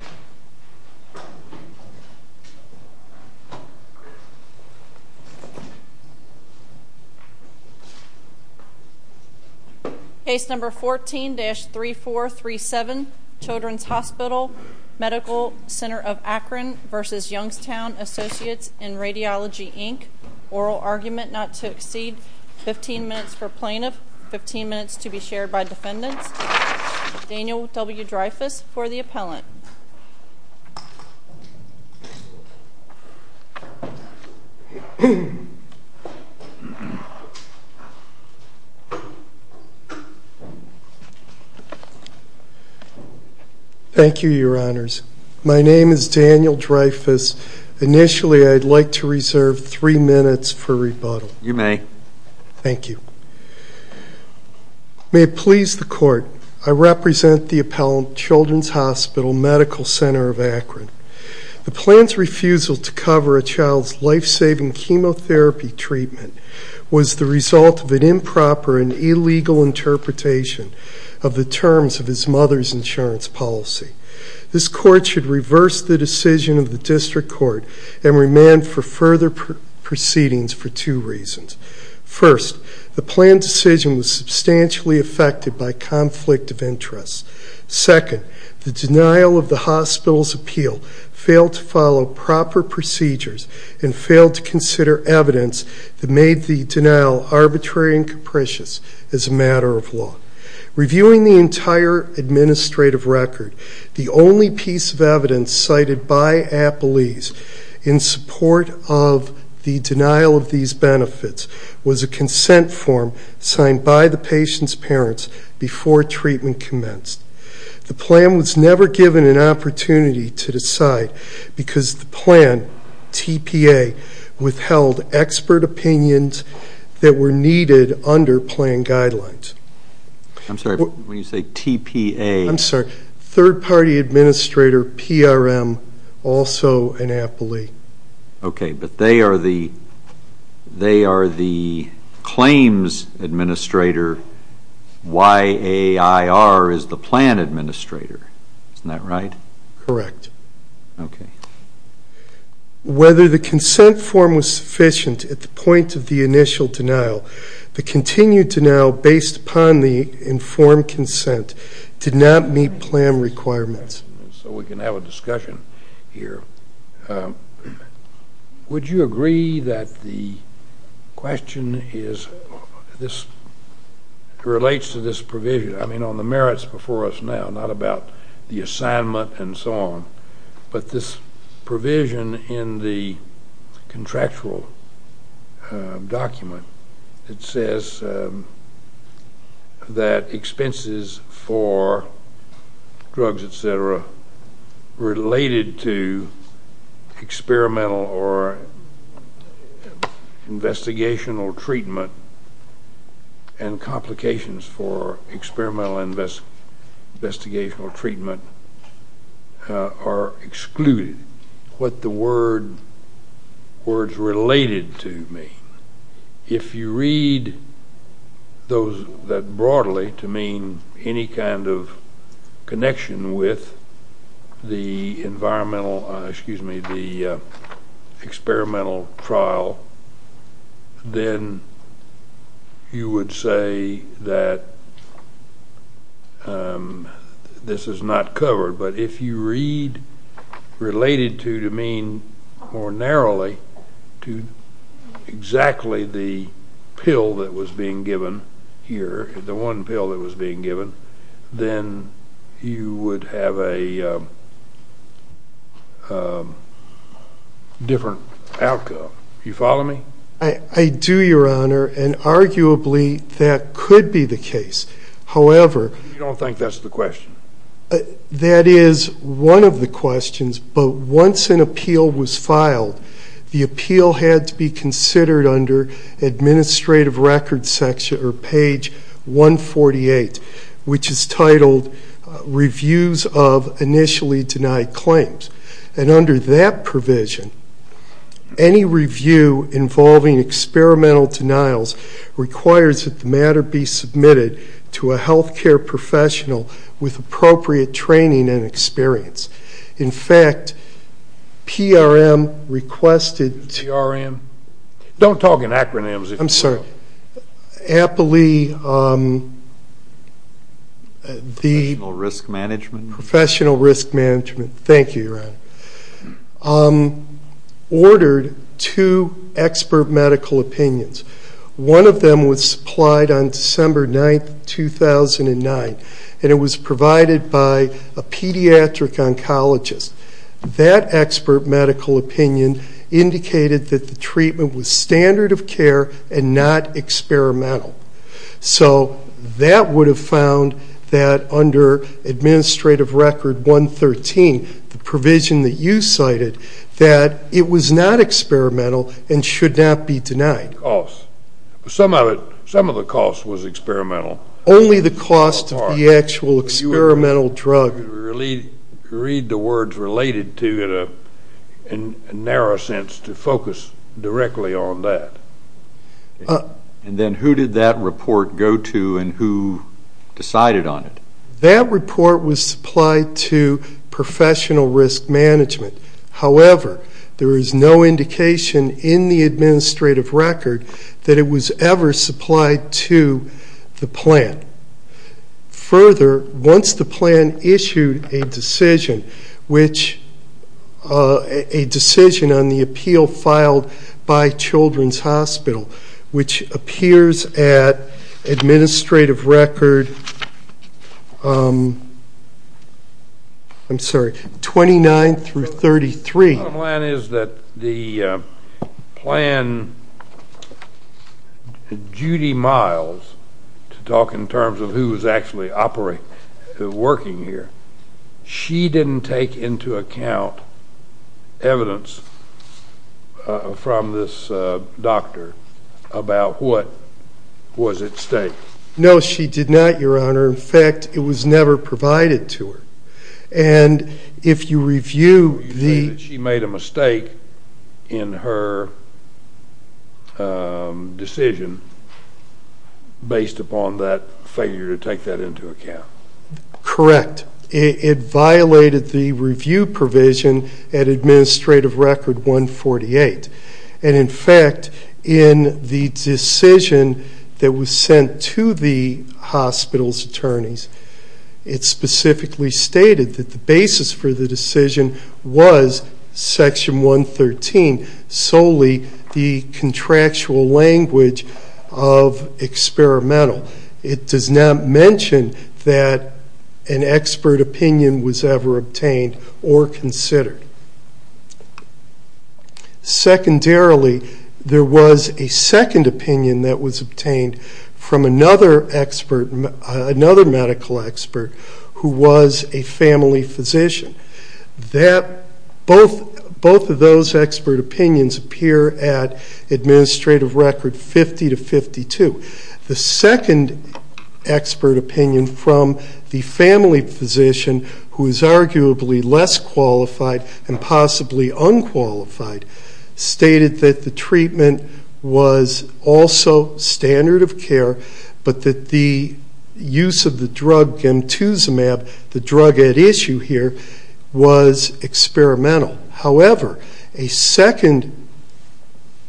Inc. Oral argument not to exceed 15 minutes for plaintiff, 15 minutes to be shared by defendants. Daniel W. Dreyfuss for the appellant. Case number 14-3437 Children's Hospital Medical Center of Akron v. Youngstown Associates in Radiology Inc. Oral argument not to exceed 15 minutes for plaintiff, 15 minutes to be shared by defendants. Thank you, your honors. My name is Daniel Dreyfuss. Initially I'd like to reserve three minutes for rebuttal. You may. Thank you. May it please the court, I represent the Children's Hospital Medical Center of Akron. The plan's refusal to cover a child's life-saving chemotherapy treatment was the result of an improper and illegal interpretation of the terms of his mother's insurance policy. This court should reverse the decision of the district court and remand for further proceedings for two reasons. First, the plan decision was substantially affected by conflict of interest. Second, the hospital's appeal failed to follow proper procedures and failed to consider evidence that made the denial arbitrary and capricious as a matter of law. Reviewing the entire administrative record, the only piece of evidence cited by appellees in support of the denial of these benefits was a consent form signed by the decide because the plan, TPA, withheld expert opinions that were needed under plan guidelines. I'm sorry, when you say TPA? I'm sorry, third party administrator, PRM, also an appellee. Okay, but they are the claims administrator. YAIR is the plan administrator. Isn't that right? Correct. Okay. Whether the consent form was sufficient at the point of the initial denial, the continued denial based upon the informed consent did not meet So we can have a discussion here. Would you agree that the question is, this relates to this provision, I mean, on the merits before us now, not about the assignment and so on, but this provision in the contractual document that says that expenses for drugs, et cetera, related to experimental or investigational treatment and if you read that broadly to mean any kind of connection with the environmental, excuse me, the experimental trial, then you would say that this is not covered, but if you read related to, to mean more narrowly to exactly the pill that was being given, then you would have a different outcome. Do you follow me? I do, your honor, and arguably that could be the case. However, You don't think that's the question? That is one of the questions, but once an appeal was filed, the appeal had to be considered under administrative record section or page 148, which is titled reviews of initially denied claims. And under that provision, any review involving experimental denials requires that the matter be submitted to a health care professional with appropriate training and experience. In fact, PRM requested... PRM? Don't talk in acronyms. I'm sorry. Apply the... Professional risk management. Professional risk management. Thank you, your honor. Ordered two expert medical opinions. One of them was supplied on December 9, 2009, and it was provided by a pediatric oncologist. That expert medical opinion indicated that the treatment was standard of care and not experimental. So that would have found that under administrative record 113, the provision that you cited, that it was not experimental and should not be denied. Some of the cost was experimental. Only the cost of the actual experimental drug. Read the words related to it in a narrow sense to focus directly on that. And then who did that report go to and who decided on it? That report was supplied to professional risk management. However, there is no indication in the administrative record that it was ever supplied to the plan. Further, once the plan issued a decision on the appeal filed by Children's Hospital, which appears at administrative record... I'm sorry, 29 through 33. The problem is that the plan... Judy Miles, to talk in terms of who was actually operating, working here, she didn't take into account evidence from this doctor about what was at stake. No, she did not, your honor. In fact, it was never provided to her. And if you review the... She made a mistake in her decision based upon that failure to take that into account. Correct. It violated the review provision at administrative record 148. And in fact, in the decision that was sent to the hospital's attorneys, it specifically stated that the basis for the decision was section 113, solely the contractual language of experimental. It does not mention that an expert opinion was ever obtained or considered. Secondarily, there was a second opinion that was obtained from another medical expert who was a family physician. Both of those expert opinions appear at administrative record 50 to 52. The second expert opinion from the family physician, who is arguably less qualified and possibly unqualified, stated that the treatment was also standard of care, but that the use of the drug Gemtuzumab, the drug at issue here, was experimental. However, a second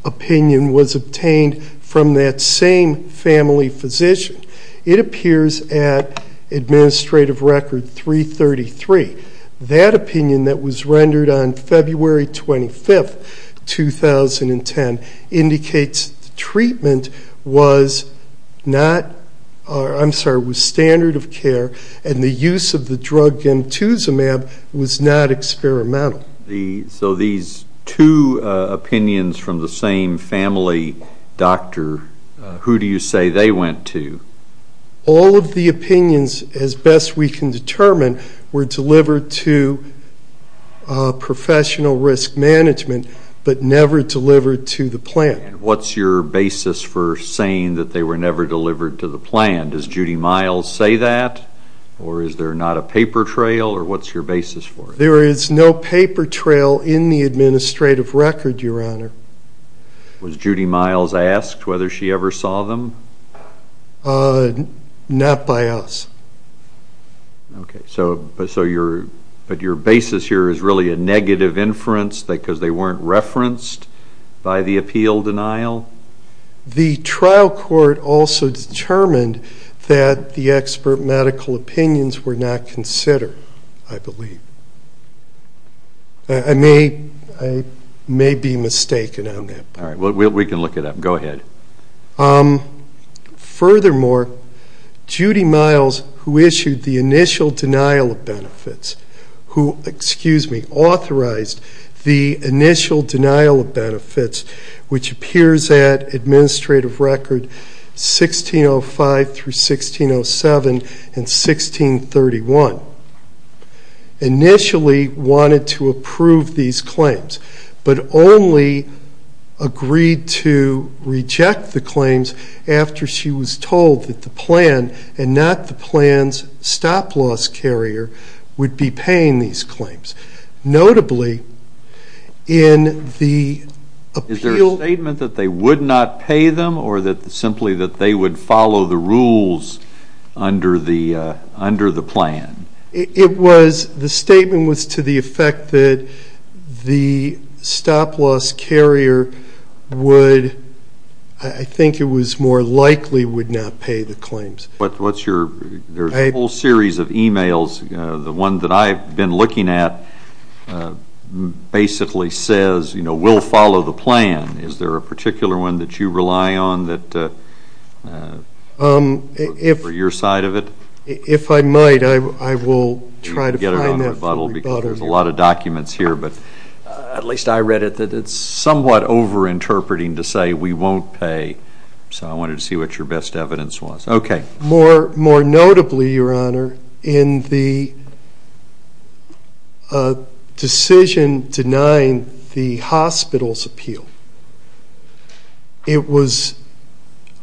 opinion was obtained from that same family physician. It appears at administrative record 333. That opinion that was rendered on February 25, 2010, indicates the treatment was standard of care and the use of the drug Gemtuzumab was not experimental. So these two opinions from the same family doctor, who do you say they went to? All of the opinions, as best we can determine, were delivered to professional risk management, but never delivered to the plant. And what's your basis for saying that they were never delivered to the plant? Does Judy Miles say that? Or is there not a paper trail? Or what's your basis for it? There is no paper trail in the administrative record, Your Honor. Was Judy Miles asked whether she ever saw them? Not by us. Okay. But your basis here is really a negative inference because they weren't referenced by the appeal denial? The trial court also determined that the expert medical opinions were not considered, I believe. I may be mistaken on that point. All right. We can look it up. Go ahead. Furthermore, Judy Miles, who issued the initial denial of benefits, who, excuse me, authorized the initial denial of benefits, which appears at administrative record 1605 through 1607 and 1631, initially wanted to approve these claims, but only agreed to reject the claims after she was told that the plant, and not the plant's stop-loss carrier, would be paying these claims. Notably, in the appeal... Is there a statement that they would not pay them, or simply that they would follow the rules under the plan? The statement was to the effect that the stop-loss carrier would, I think it was more likely, would not pay the claims. There's a whole series of e-mails. The one that I've been looking at basically says, you know, we'll follow the plan. Is there a particular one that you rely on for your side of it? If I might, I will try to find that for you. There's a lot of documents here, but at least I read it that it's somewhat over-interpreting to say we won't pay. So I wanted to see what your best evidence was. Okay. More notably, Your Honor, in the decision denying the hospital's appeal, it was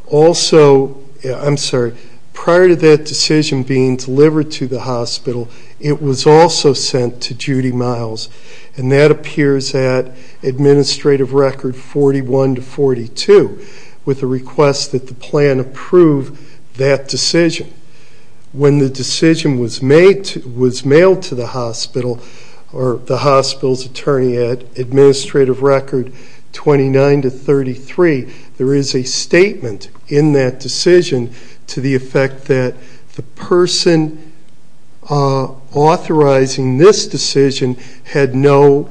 also... I'm sorry. Prior to that decision being delivered to the hospital, it was also sent to Judy Miles, and that appears at Administrative Record 41 to 42, with a request that the plan approve that decision. When the decision was mailed to the hospital, or the hospital's attorney at Administrative Record 29 to 33, there is a statement in that decision to the effect that the person authorizing this decision had no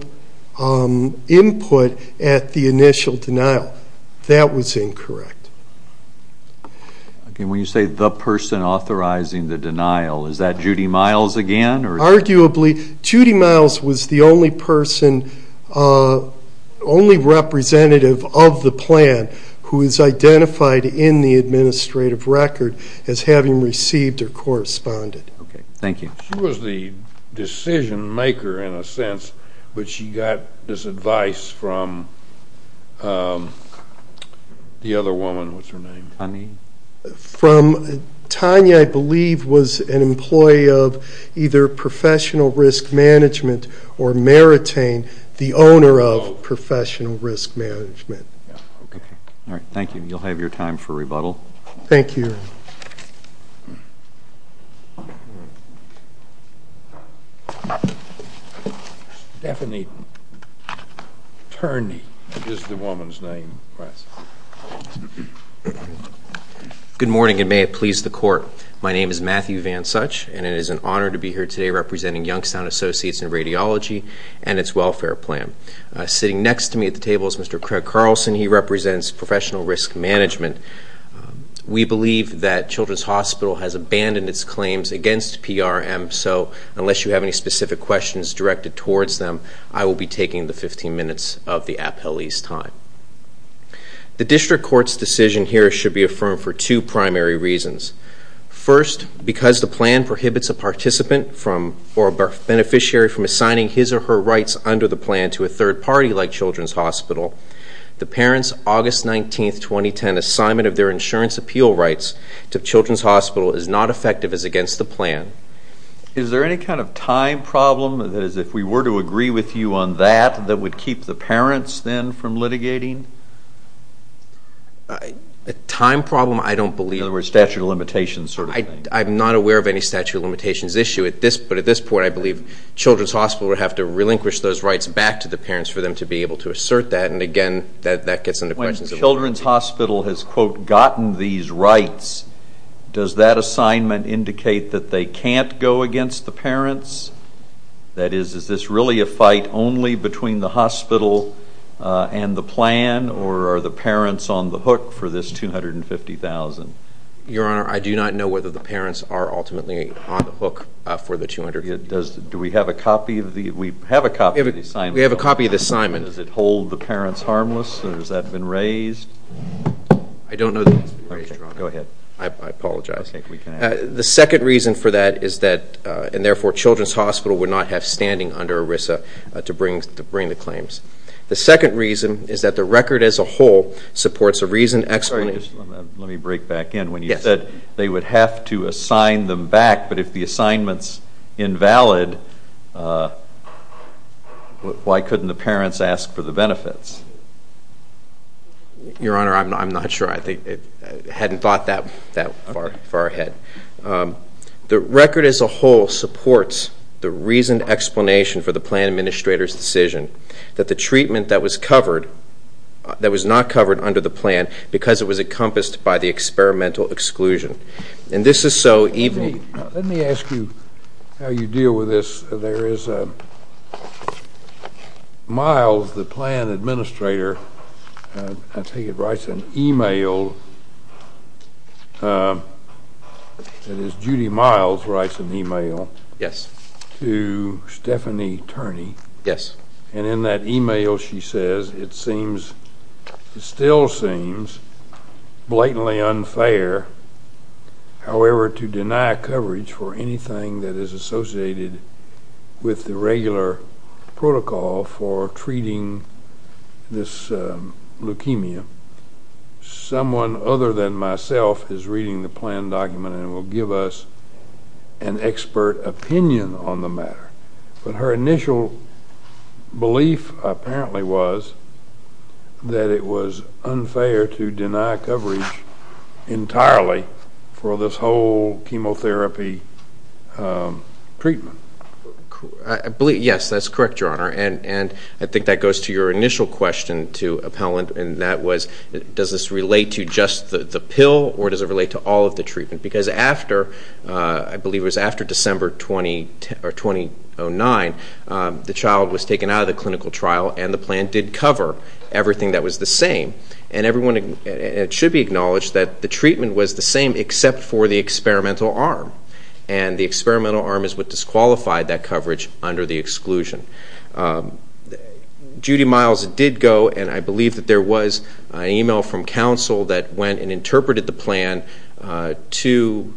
input at the initial denial. That was incorrect. When you say the person authorizing the denial, is that Judy Miles again? Arguably, Judy Miles was the only person, only representative of the plan, who is identified in the Administrative Record as having received or corresponded. Okay. Thank you. She was the decision maker in a sense, but she got this advice from the other woman. What's her name? Tanya. Tanya, I believe, was an employee of either Professional Risk Management or Maritain, the owner of Professional Risk Management. Okay. All right. Thank you. You'll have your time for rebuttal. Thank you, Your Honor. Stephanie Turney. This is the woman's name. Good morning, and may it please the Court. My name is Matthew Van Such, and it is an honor to be here today representing Youngstown Associates in Radiology and its welfare plan. Sitting next to me at the table is Mr. Craig Carlson. He represents Professional Risk Management. We believe that Children's Hospital has abandoned its claims against PRM, so unless you have any specific questions directed towards them, I will be taking the 15 minutes of the appellee's time. The District Court's decision here should be affirmed for two primary reasons. First, because the plan prohibits a participant or beneficiary from assigning his or her rights under the plan to a third party like Children's Hospital, the parent's August 19, 2010, assignment of their insurance appeal rights to Children's Hospital is not effective as against the plan. Is there any kind of time problem? That is, if we were to agree with you on that, that would keep the parents then from litigating? A time problem, I don't believe. In other words, statute of limitations sort of thing. I'm not aware of any statute of limitations issue. But at this point, I believe Children's Hospital would have to relinquish those rights back to the parents for them to be able to assert that. And, again, that gets into questions. When Children's Hospital has, quote, gotten these rights, does that assignment indicate that they can't go against the parents? That is, is this really a fight only between the hospital and the plan, or are the parents on the hook for this $250,000? Your Honor, I do not know whether the parents are ultimately on the hook for the $250,000. Do we have a copy of the assignment? We have a copy of the assignment. Does it hold the parents harmless, or has that been raised? I don't know that it's been raised, Your Honor. Okay, go ahead. I apologize. I think we can ask. The second reason for that is that, and, therefore, Children's Hospital would not have standing under ERISA to bring the claims. The second reason is that the record as a whole supports a reason explanation. Let me break back in. When you said they would have to assign them back, but if the assignment's invalid, why couldn't the parents ask for the benefits? Your Honor, I'm not sure. I hadn't thought that far ahead. The record as a whole supports the reasoned explanation for the plan administrator's decision that the treatment that was covered, that was not covered under the plan because it was encompassed by the experimental exclusion. And this is so even. Let me ask you how you deal with this. There is Miles, the plan administrator. I think it writes an e-mail. It is Judy Miles writes an e-mail to Stephanie Turney. Yes. And in that e-mail, she says, it seems, it still seems blatantly unfair, however, to deny coverage for anything that is associated with the regular protocol for treating this leukemia. Someone other than myself is reading the plan document and will give us an expert opinion on the matter. But her initial belief apparently was that it was unfair to deny coverage entirely for this whole chemotherapy treatment. Yes, that's correct, Your Honor. And I think that goes to your initial question to Appellant, and that was, does this relate to just the pill or does it relate to all of the treatment? Because after, I believe it was after December 2009, the child was taken out of the clinical trial and the plan did cover everything that was the same. And it should be acknowledged that the treatment was the same except for the experimental arm. And the experimental arm is what disqualified that coverage under the exclusion. Judy Miles did go, and I believe that there was an e-mail from counsel that went and interpreted the plan to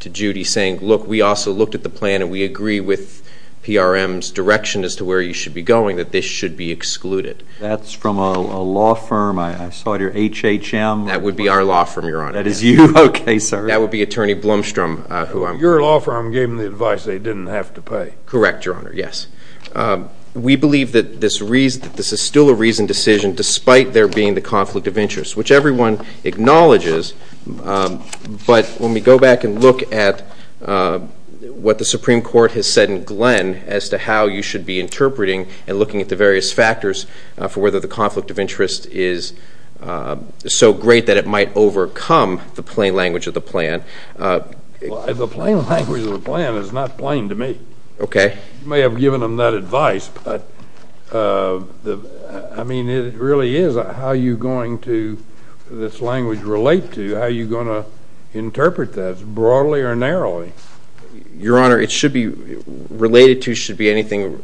Judy saying, look, we also looked at the plan and we agree with PRM's direction as to where you should be going, that this should be excluded. That's from a law firm. I saw it here, HHM. That would be our law firm, Your Honor. That is you? Okay, sir. That would be Attorney Blomstrom. Your law firm gave them the advice they didn't have to pay. Correct, Your Honor, yes. We believe that this is still a reasoned decision despite there being the conflict of interest, which everyone acknowledges. But when we go back and look at what the Supreme Court has said in Glenn as to how you should be interpreting and looking at the various factors for whether the conflict of interest is so great that it might overcome the plain language of the plan. The plain language of the plan is not plain to me. Okay. You may have given them that advice, but, I mean, it really is how you're going to this language relate to, how you're going to interpret that, broadly or narrowly. Your Honor, it should be related to, should be anything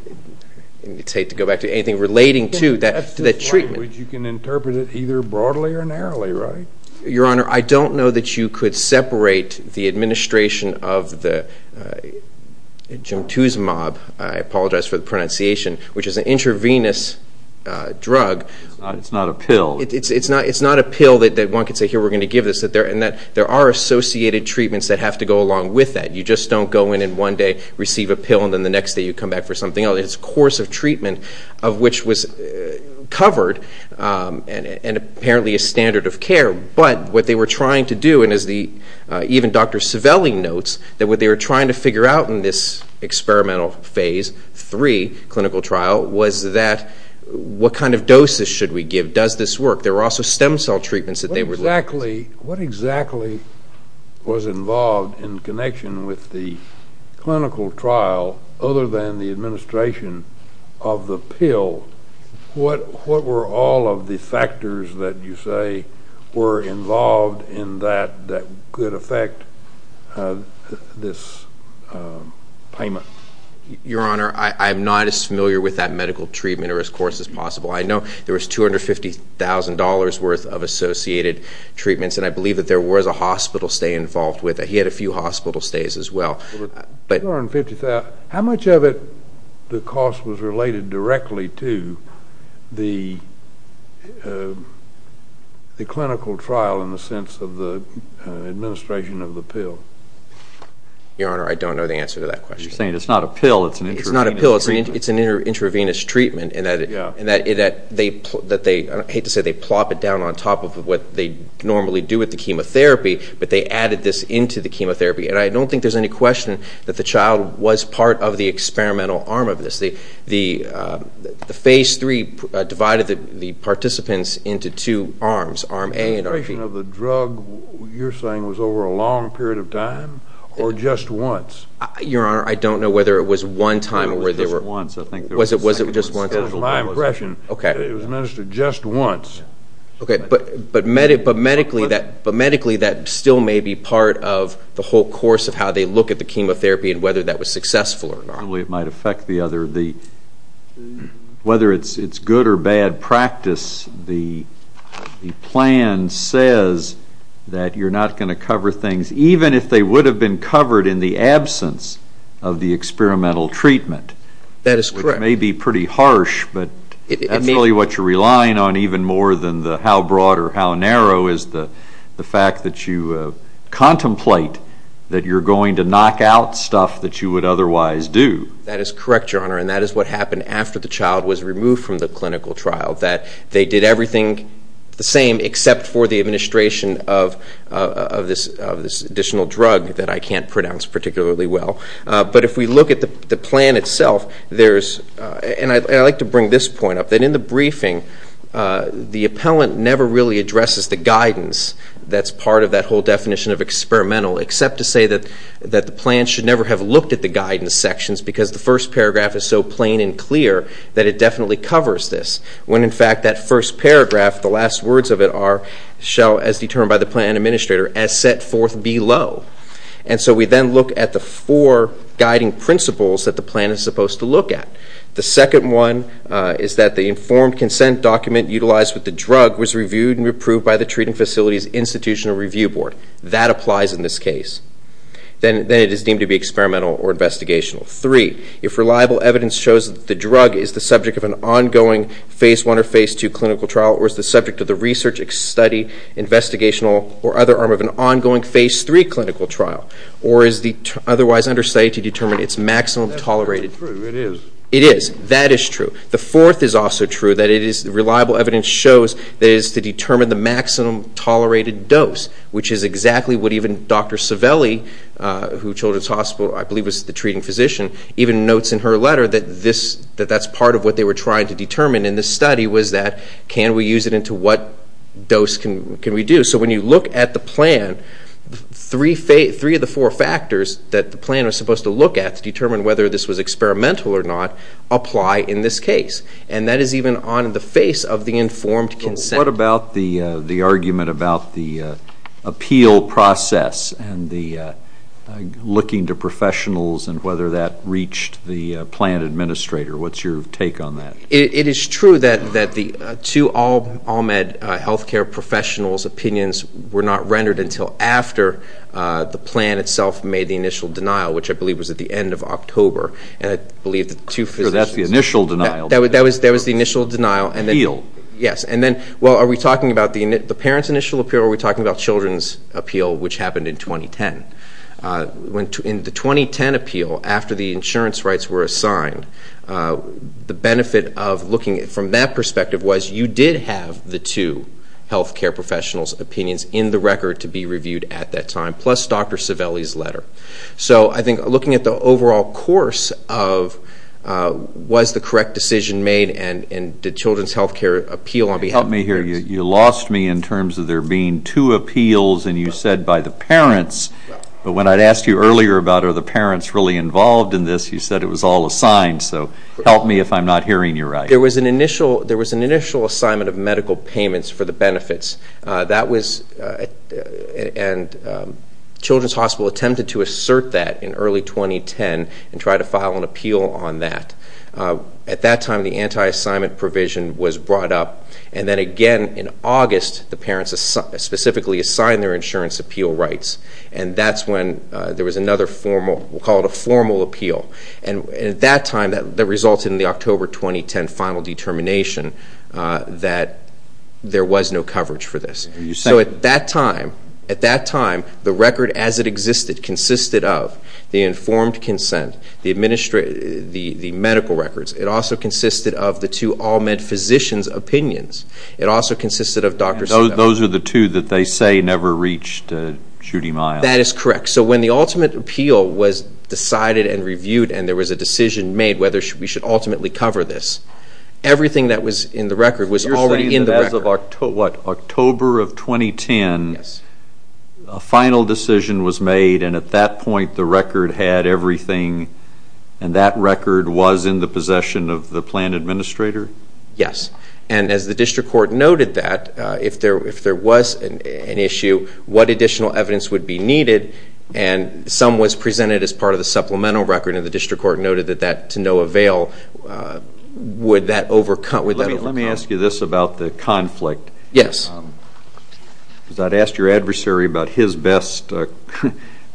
relating to that treatment. That's the language. You can interpret it either broadly or narrowly, right? Your Honor, I don't know that you could separate the administration of the jantuzumab, I apologize for the pronunciation, which is an intravenous drug. It's not a pill. It's not a pill that one could say, here, we're going to give this, and that there are associated treatments that have to go along with that. You just don't go in and one day receive a pill, and then the next day you come back for something else. It's a course of treatment of which was covered, and apparently a standard of care. But what they were trying to do, and as even Dr. Civelli notes, that what they were trying to figure out in this experimental phase three clinical trial was that, what kind of doses should we give? Does this work? What exactly was involved in connection with the clinical trial other than the administration of the pill? What were all of the factors that you say were involved in that that could affect this payment? Your Honor, I'm not as familiar with that medical treatment or as course as possible. I know there was $250,000 worth of associated treatments, and I believe that there was a hospital stay involved with it. He had a few hospital stays as well. How much of the cost was related directly to the clinical trial in the sense of the administration of the pill? Your Honor, I don't know the answer to that question. You're saying it's not a pill, it's an intravenous treatment. I hate to say they plop it down on top of what they normally do with the chemotherapy, but they added this into the chemotherapy, and I don't think there's any question that the child was part of the experimental arm of this. The phase three divided the participants into two arms, arm A and arm B. The administration of the drug, you're saying, was over a long period of time or just once? Your Honor, I don't know whether it was one time or whether it was just once. It was my impression that it was administered just once. But medically, that still may be part of the whole course of how they look at the chemotherapy and whether that was successful or not. It might affect the other. Whether it's good or bad practice, the plan says that you're not going to cover things, even if they would have been covered in the absence of the experimental treatment. That is correct. It may be pretty harsh, but that's really what you're relying on even more than how broad or how narrow is the fact that you contemplate that you're going to knock out stuff that you would otherwise do. That is correct, Your Honor, and that is what happened after the child was removed from the clinical trial, that they did everything the same except for the administration of this additional drug that I can't pronounce particularly well. But if we look at the plan itself, and I'd like to bring this point up, that in the briefing the appellant never really addresses the guidance that's part of that whole definition of experimental except to say that the plan should never have looked at the guidance sections because the first paragraph is so plain and clear that it definitely covers this. When, in fact, that first paragraph, the last words of it are, shall, as determined by the plan administrator, as set forth below. And so we then look at the four guiding principles that the plan is supposed to look at. The second one is that the informed consent document utilized with the drug was reviewed and approved by the treating facility's institutional review board. That applies in this case. Then it is deemed to be experimental or investigational. Three, if reliable evidence shows that the drug is the subject of an ongoing Phase I or Phase II clinical trial or is the subject of the research study, investigational or other arm of an ongoing Phase III clinical trial or is the otherwise understudy to determine its maximum tolerated. That's not true. It is. It is. That is true. The fourth is also true, that it is reliable evidence shows that it is to determine the maximum tolerated dose, which is exactly what even Dr. Savelli, who children's hospital, I believe, was the treating physician, even notes in her letter that that's part of what they were trying to determine in this study was that can we use it into what dose can we do. So when you look at the plan, three of the four factors that the plan was supposed to look at to determine whether this was experimental or not apply in this case, and that is even on the face of the informed consent. What about the argument about the appeal process and the looking to professionals and whether that reached the plan administrator? What's your take on that? It is true that the two all-med health care professionals' opinions were not rendered until after the plan itself made the initial denial, which I believe was at the end of October. And I believe the two physicians. So that's the initial denial. That was the initial denial. Appeal. Yes. And then, well, are we talking about the parents' initial appeal or are we talking about children's appeal, which happened in 2010? In the 2010 appeal, after the insurance rights were assigned, the benefit of looking from that perspective was you did have the two health care professionals' opinions in the record to be reviewed at that time, plus Dr. Civelli's letter. So I think looking at the overall course of was the correct decision made and did children's health care appeal on behalf of the parents. You lost me in terms of there being two appeals and you said by the parents. But when I'd asked you earlier about are the parents really involved in this, you said it was all assigned. So help me if I'm not hearing you right. There was an initial assignment of medical payments for the benefits. And Children's Hospital attempted to assert that in early 2010 and tried to file an appeal on that. At that time, the anti-assignment provision was brought up. And then again in August, the parents specifically assigned their insurance appeal rights. And that's when there was another formal, we'll call it a formal appeal. And at that time, that resulted in the October 2010 final determination that there was no coverage for this. So at that time, the record as it existed consisted of the informed consent, the medical records. It also consisted of the two all-med physicians' opinions. It also consisted of Dr. Sue. Those are the two that they say never reached Judy Miles. That is correct. So when the ultimate appeal was decided and reviewed and there was a decision made whether we should ultimately cover this, everything that was in the record was already in the record. You're saying that as of October of 2010, a final decision was made. And at that point, the record had everything. And that record was in the possession of the plan administrator? Yes. And as the district court noted that, if there was an issue, what additional evidence would be needed? And some was presented as part of the supplemental record. And the district court noted that to no avail. Would that overcome? Let me ask you this about the conflict. Yes. Because I'd asked your adversary about his best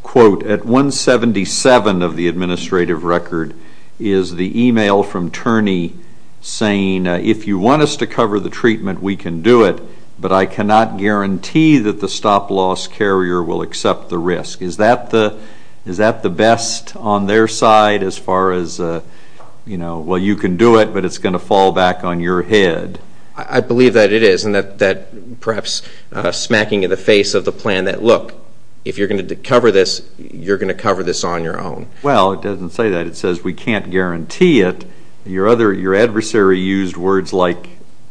quote. At 177 of the administrative record is the email from Turney saying, if you want us to cover the treatment, we can do it, but I cannot guarantee that the stop-loss carrier will accept the risk. Is that the best on their side as far as, you know, well, you can do it, but it's going to fall back on your head? I believe that it is and that perhaps smacking in the face of the plan that, look, if you're going to cover this, you're going to cover this on your own. Well, it doesn't say that. It says we can't guarantee it. Your adversary used words like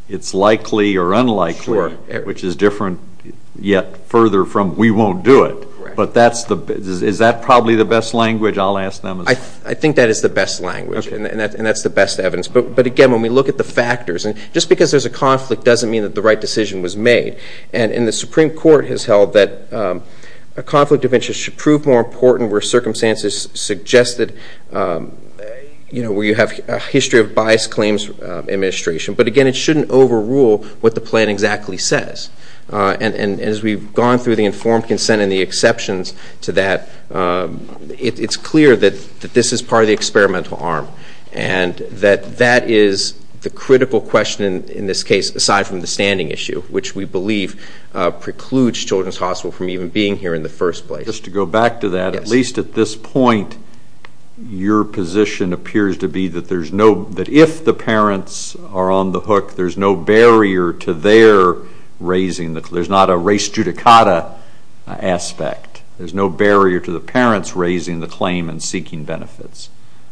it's likely or unlikely, which is different yet further from we won't do it. But is that probably the best language I'll ask them? I think that is the best language, and that's the best evidence. But, again, when we look at the factors, just because there's a conflict doesn't mean that the right decision was made. And the Supreme Court has held that a conflict of interest should prove more important where circumstances suggest that, you know, where you have a history of biased claims administration. But, again, it shouldn't overrule what the plan exactly says. And as we've gone through the informed consent and the exceptions to that, it's clear that this is part of the experimental arm and that that is the critical question in this case aside from the standing issue, which we believe precludes Children's Hospital from even being here in the first place. Just to go back to that, at least at this point, your position appears to be that if the parents are on the hook, there's no barrier to their raising the claim. There's not a res judicata aspect. There's no barrier to the parents raising the claim and seeking benefits.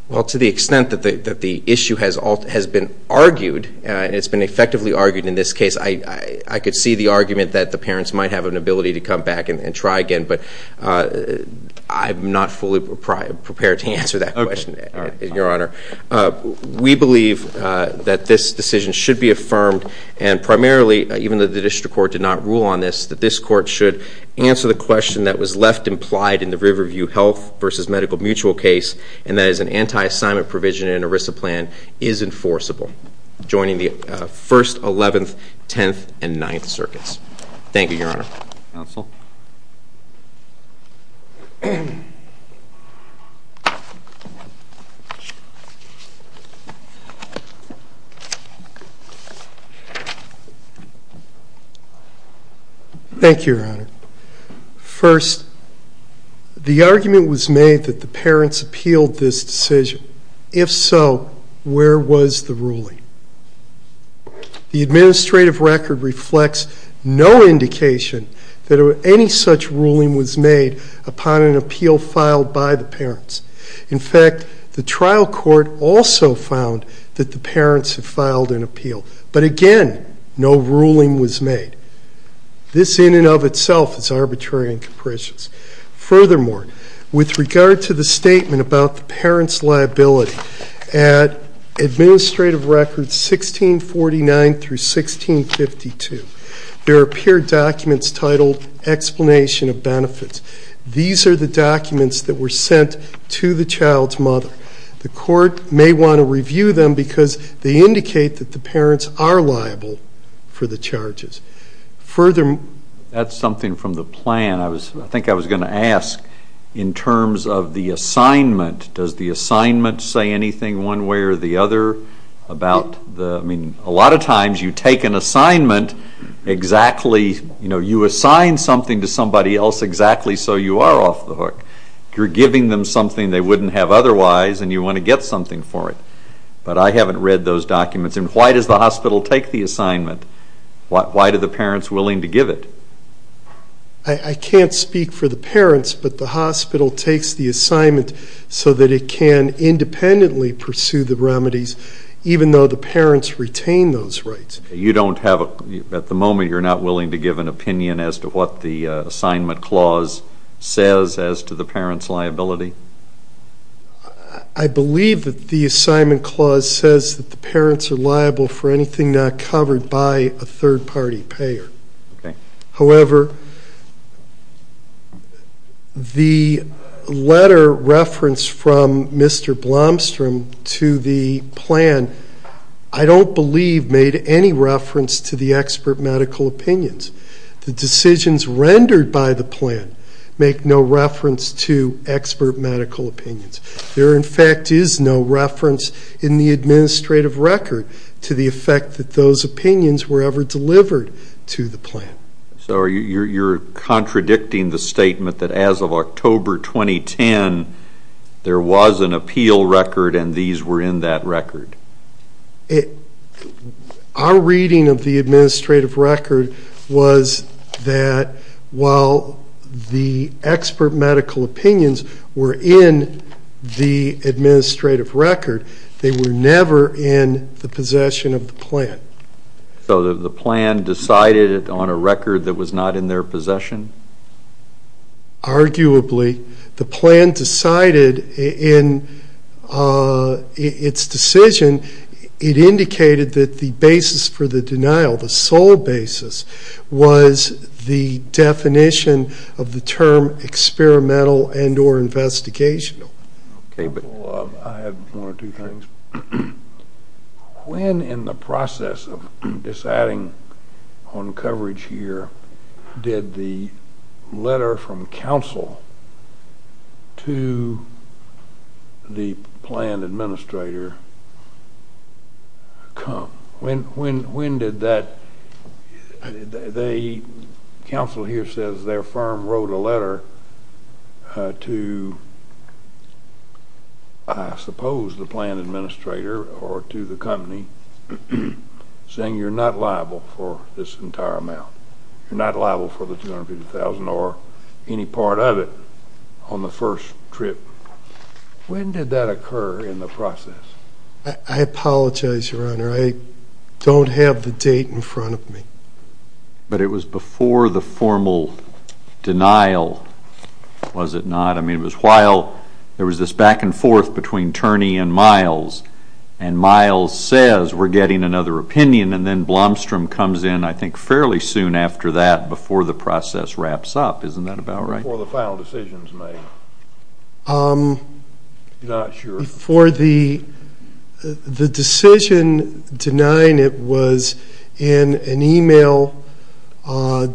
Well, to the extent that the issue has been argued, and it's been effectively argued in this case, I could see the argument that the parents might have an ability to come back and try again. But I'm not fully prepared to answer that question, Your Honor. We believe that this decision should be affirmed, and primarily, even though the district court did not rule on this, that this court should answer the question that was left implied in the Riverview Health v. Medical Mutual case and that is an anti-assignment provision in an ERISA plan is enforceable, joining the 1st, 11th, 10th, and 9th circuits. Thank you, Your Honor. Thank you, Your Honor. First, the argument was made that the parents appealed this decision. If so, where was the ruling? The administrative record reflects no indication that any such ruling was made upon an appeal filed by the parents. In fact, the trial court also found that the parents had filed an appeal. But again, no ruling was made. This, in and of itself, is arbitrary and capricious. Furthermore, with regard to the statement about the parents' liability, at Administrative Records 1649 through 1652, there appear documents titled, Explanation of Benefits. These are the documents that were sent to the child's mother. The court may want to review them because they indicate that the parents are liable for the charges. That's something from the plan. I think I was going to ask in terms of the assignment, does the assignment say anything one way or the other? I mean, a lot of times you take an assignment exactly, you know, you assign something to somebody else exactly so you are off the hook. You're giving them something they wouldn't have otherwise and you want to get something for it. But I haven't read those documents. Why does the hospital take the assignment? Why are the parents willing to give it? I can't speak for the parents, but the hospital takes the assignment so that it can independently pursue the remedies, even though the parents retain those rights. You don't have a, at the moment, you're not willing to give an opinion as to what the assignment clause says as to the parents' liability? I believe that the assignment clause says that the parents are liable for anything not covered by a third-party payer. However, the letter referenced from Mr. Blomstrom to the plan, I don't believe made any reference to the expert medical opinions. The decisions rendered by the plan make no reference to expert medical opinions. There, in fact, is no reference in the administrative record to the effect that those opinions were ever delivered to the plan. So you're contradicting the statement that as of October 2010, there was an appeal record and these were in that record? Our reading of the administrative record was that while the expert medical opinions were in the administrative record, they were never in the possession of the plan. So the plan decided it on a record that was not in their possession? Arguably, the plan decided in its decision, it indicated that the basis for the denial, the sole basis, was the definition of the term experimental and or investigational. I have one or two things. When in the process of deciding on coverage here did the letter from counsel to the plan administrator come? When did that? The counsel here says their firm wrote a letter to I suppose the plan administrator or to the company saying you're not liable for this entire amount. You're not liable for the $250,000 or any part of it on the first trip. When did that occur in the process? I apologize, Your Honor. I don't have the date in front of me. But it was before the formal denial, was it not? I mean it was while there was this back and forth between Turney and Miles and Miles says we're getting another opinion and then Blomstrom comes in I think fairly soon after that before the process wraps up. Isn't that about right? Before the final decision is made. I'm not sure. Before the decision denying it was in an email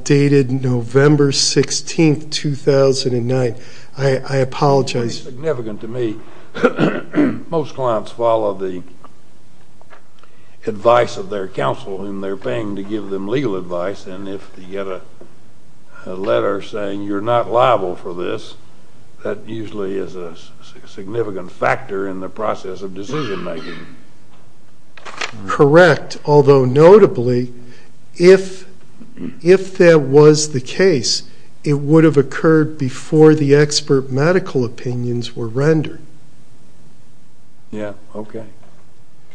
dated November 16, 2009. I apologize. Significant to me. Most clients follow the advice of their counsel whom they're paying to give them legal advice and if you get a letter saying you're not liable for this, that usually is a significant factor in the process of decision making. Correct. Although notably, if that was the case, it would have occurred before the expert medical opinions were rendered. Yeah. Okay.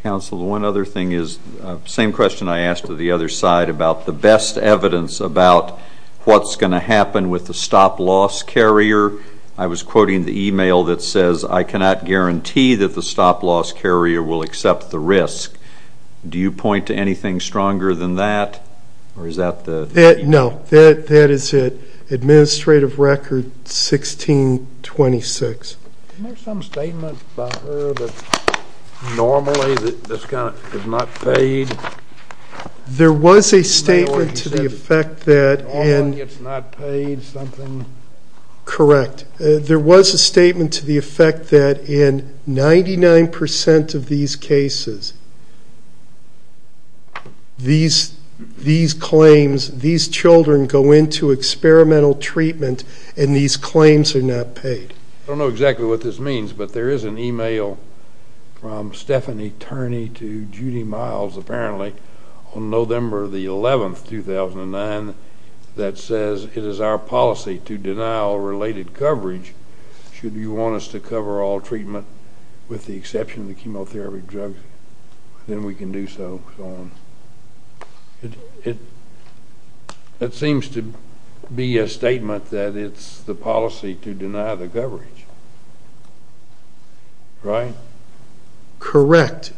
Counsel, the one other thing is, same question I asked to the other side about the best evidence about what's going to happen with the stop-loss carrier. I was quoting the email that says, I cannot guarantee that the stop-loss carrier will accept the risk. Do you point to anything stronger than that or is that the? No. That is it. Administrative record 1626. Isn't there some statement by her that normally this kind of is not paid? There was a statement to the effect that in. All that gets not paid, something. Correct. There was a statement to the effect that in 99% of these cases, these claims, these children go into experimental treatment and these claims are not paid. I don't know exactly what this means, but there is an email from Stephanie Turney to Judy Miles apparently on November the 11th, 2009, that says it is our policy to deny all related coverage. Should you want us to cover all treatment with the exception of the chemotherapy drugs, then we can do so and so on. It seems to be a statement that it's the policy to deny the coverage. Right? Correct.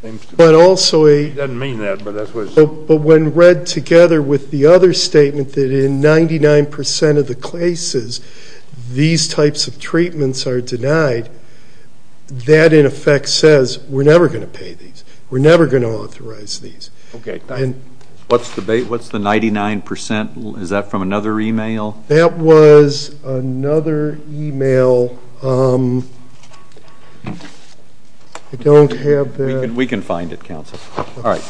It doesn't mean that, but that's what it says. But when read together with the other statement that in 99% of the cases, these types of treatments are denied, that in effect says we're never going to pay these. We're never going to authorize these. Okay. What's the 99%? Is that from another email? That was another email. I don't have that. We can find it, counsel. All right.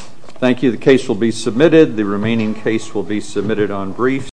Thank you. The case will be submitted. The remaining case will be submitted on briefs.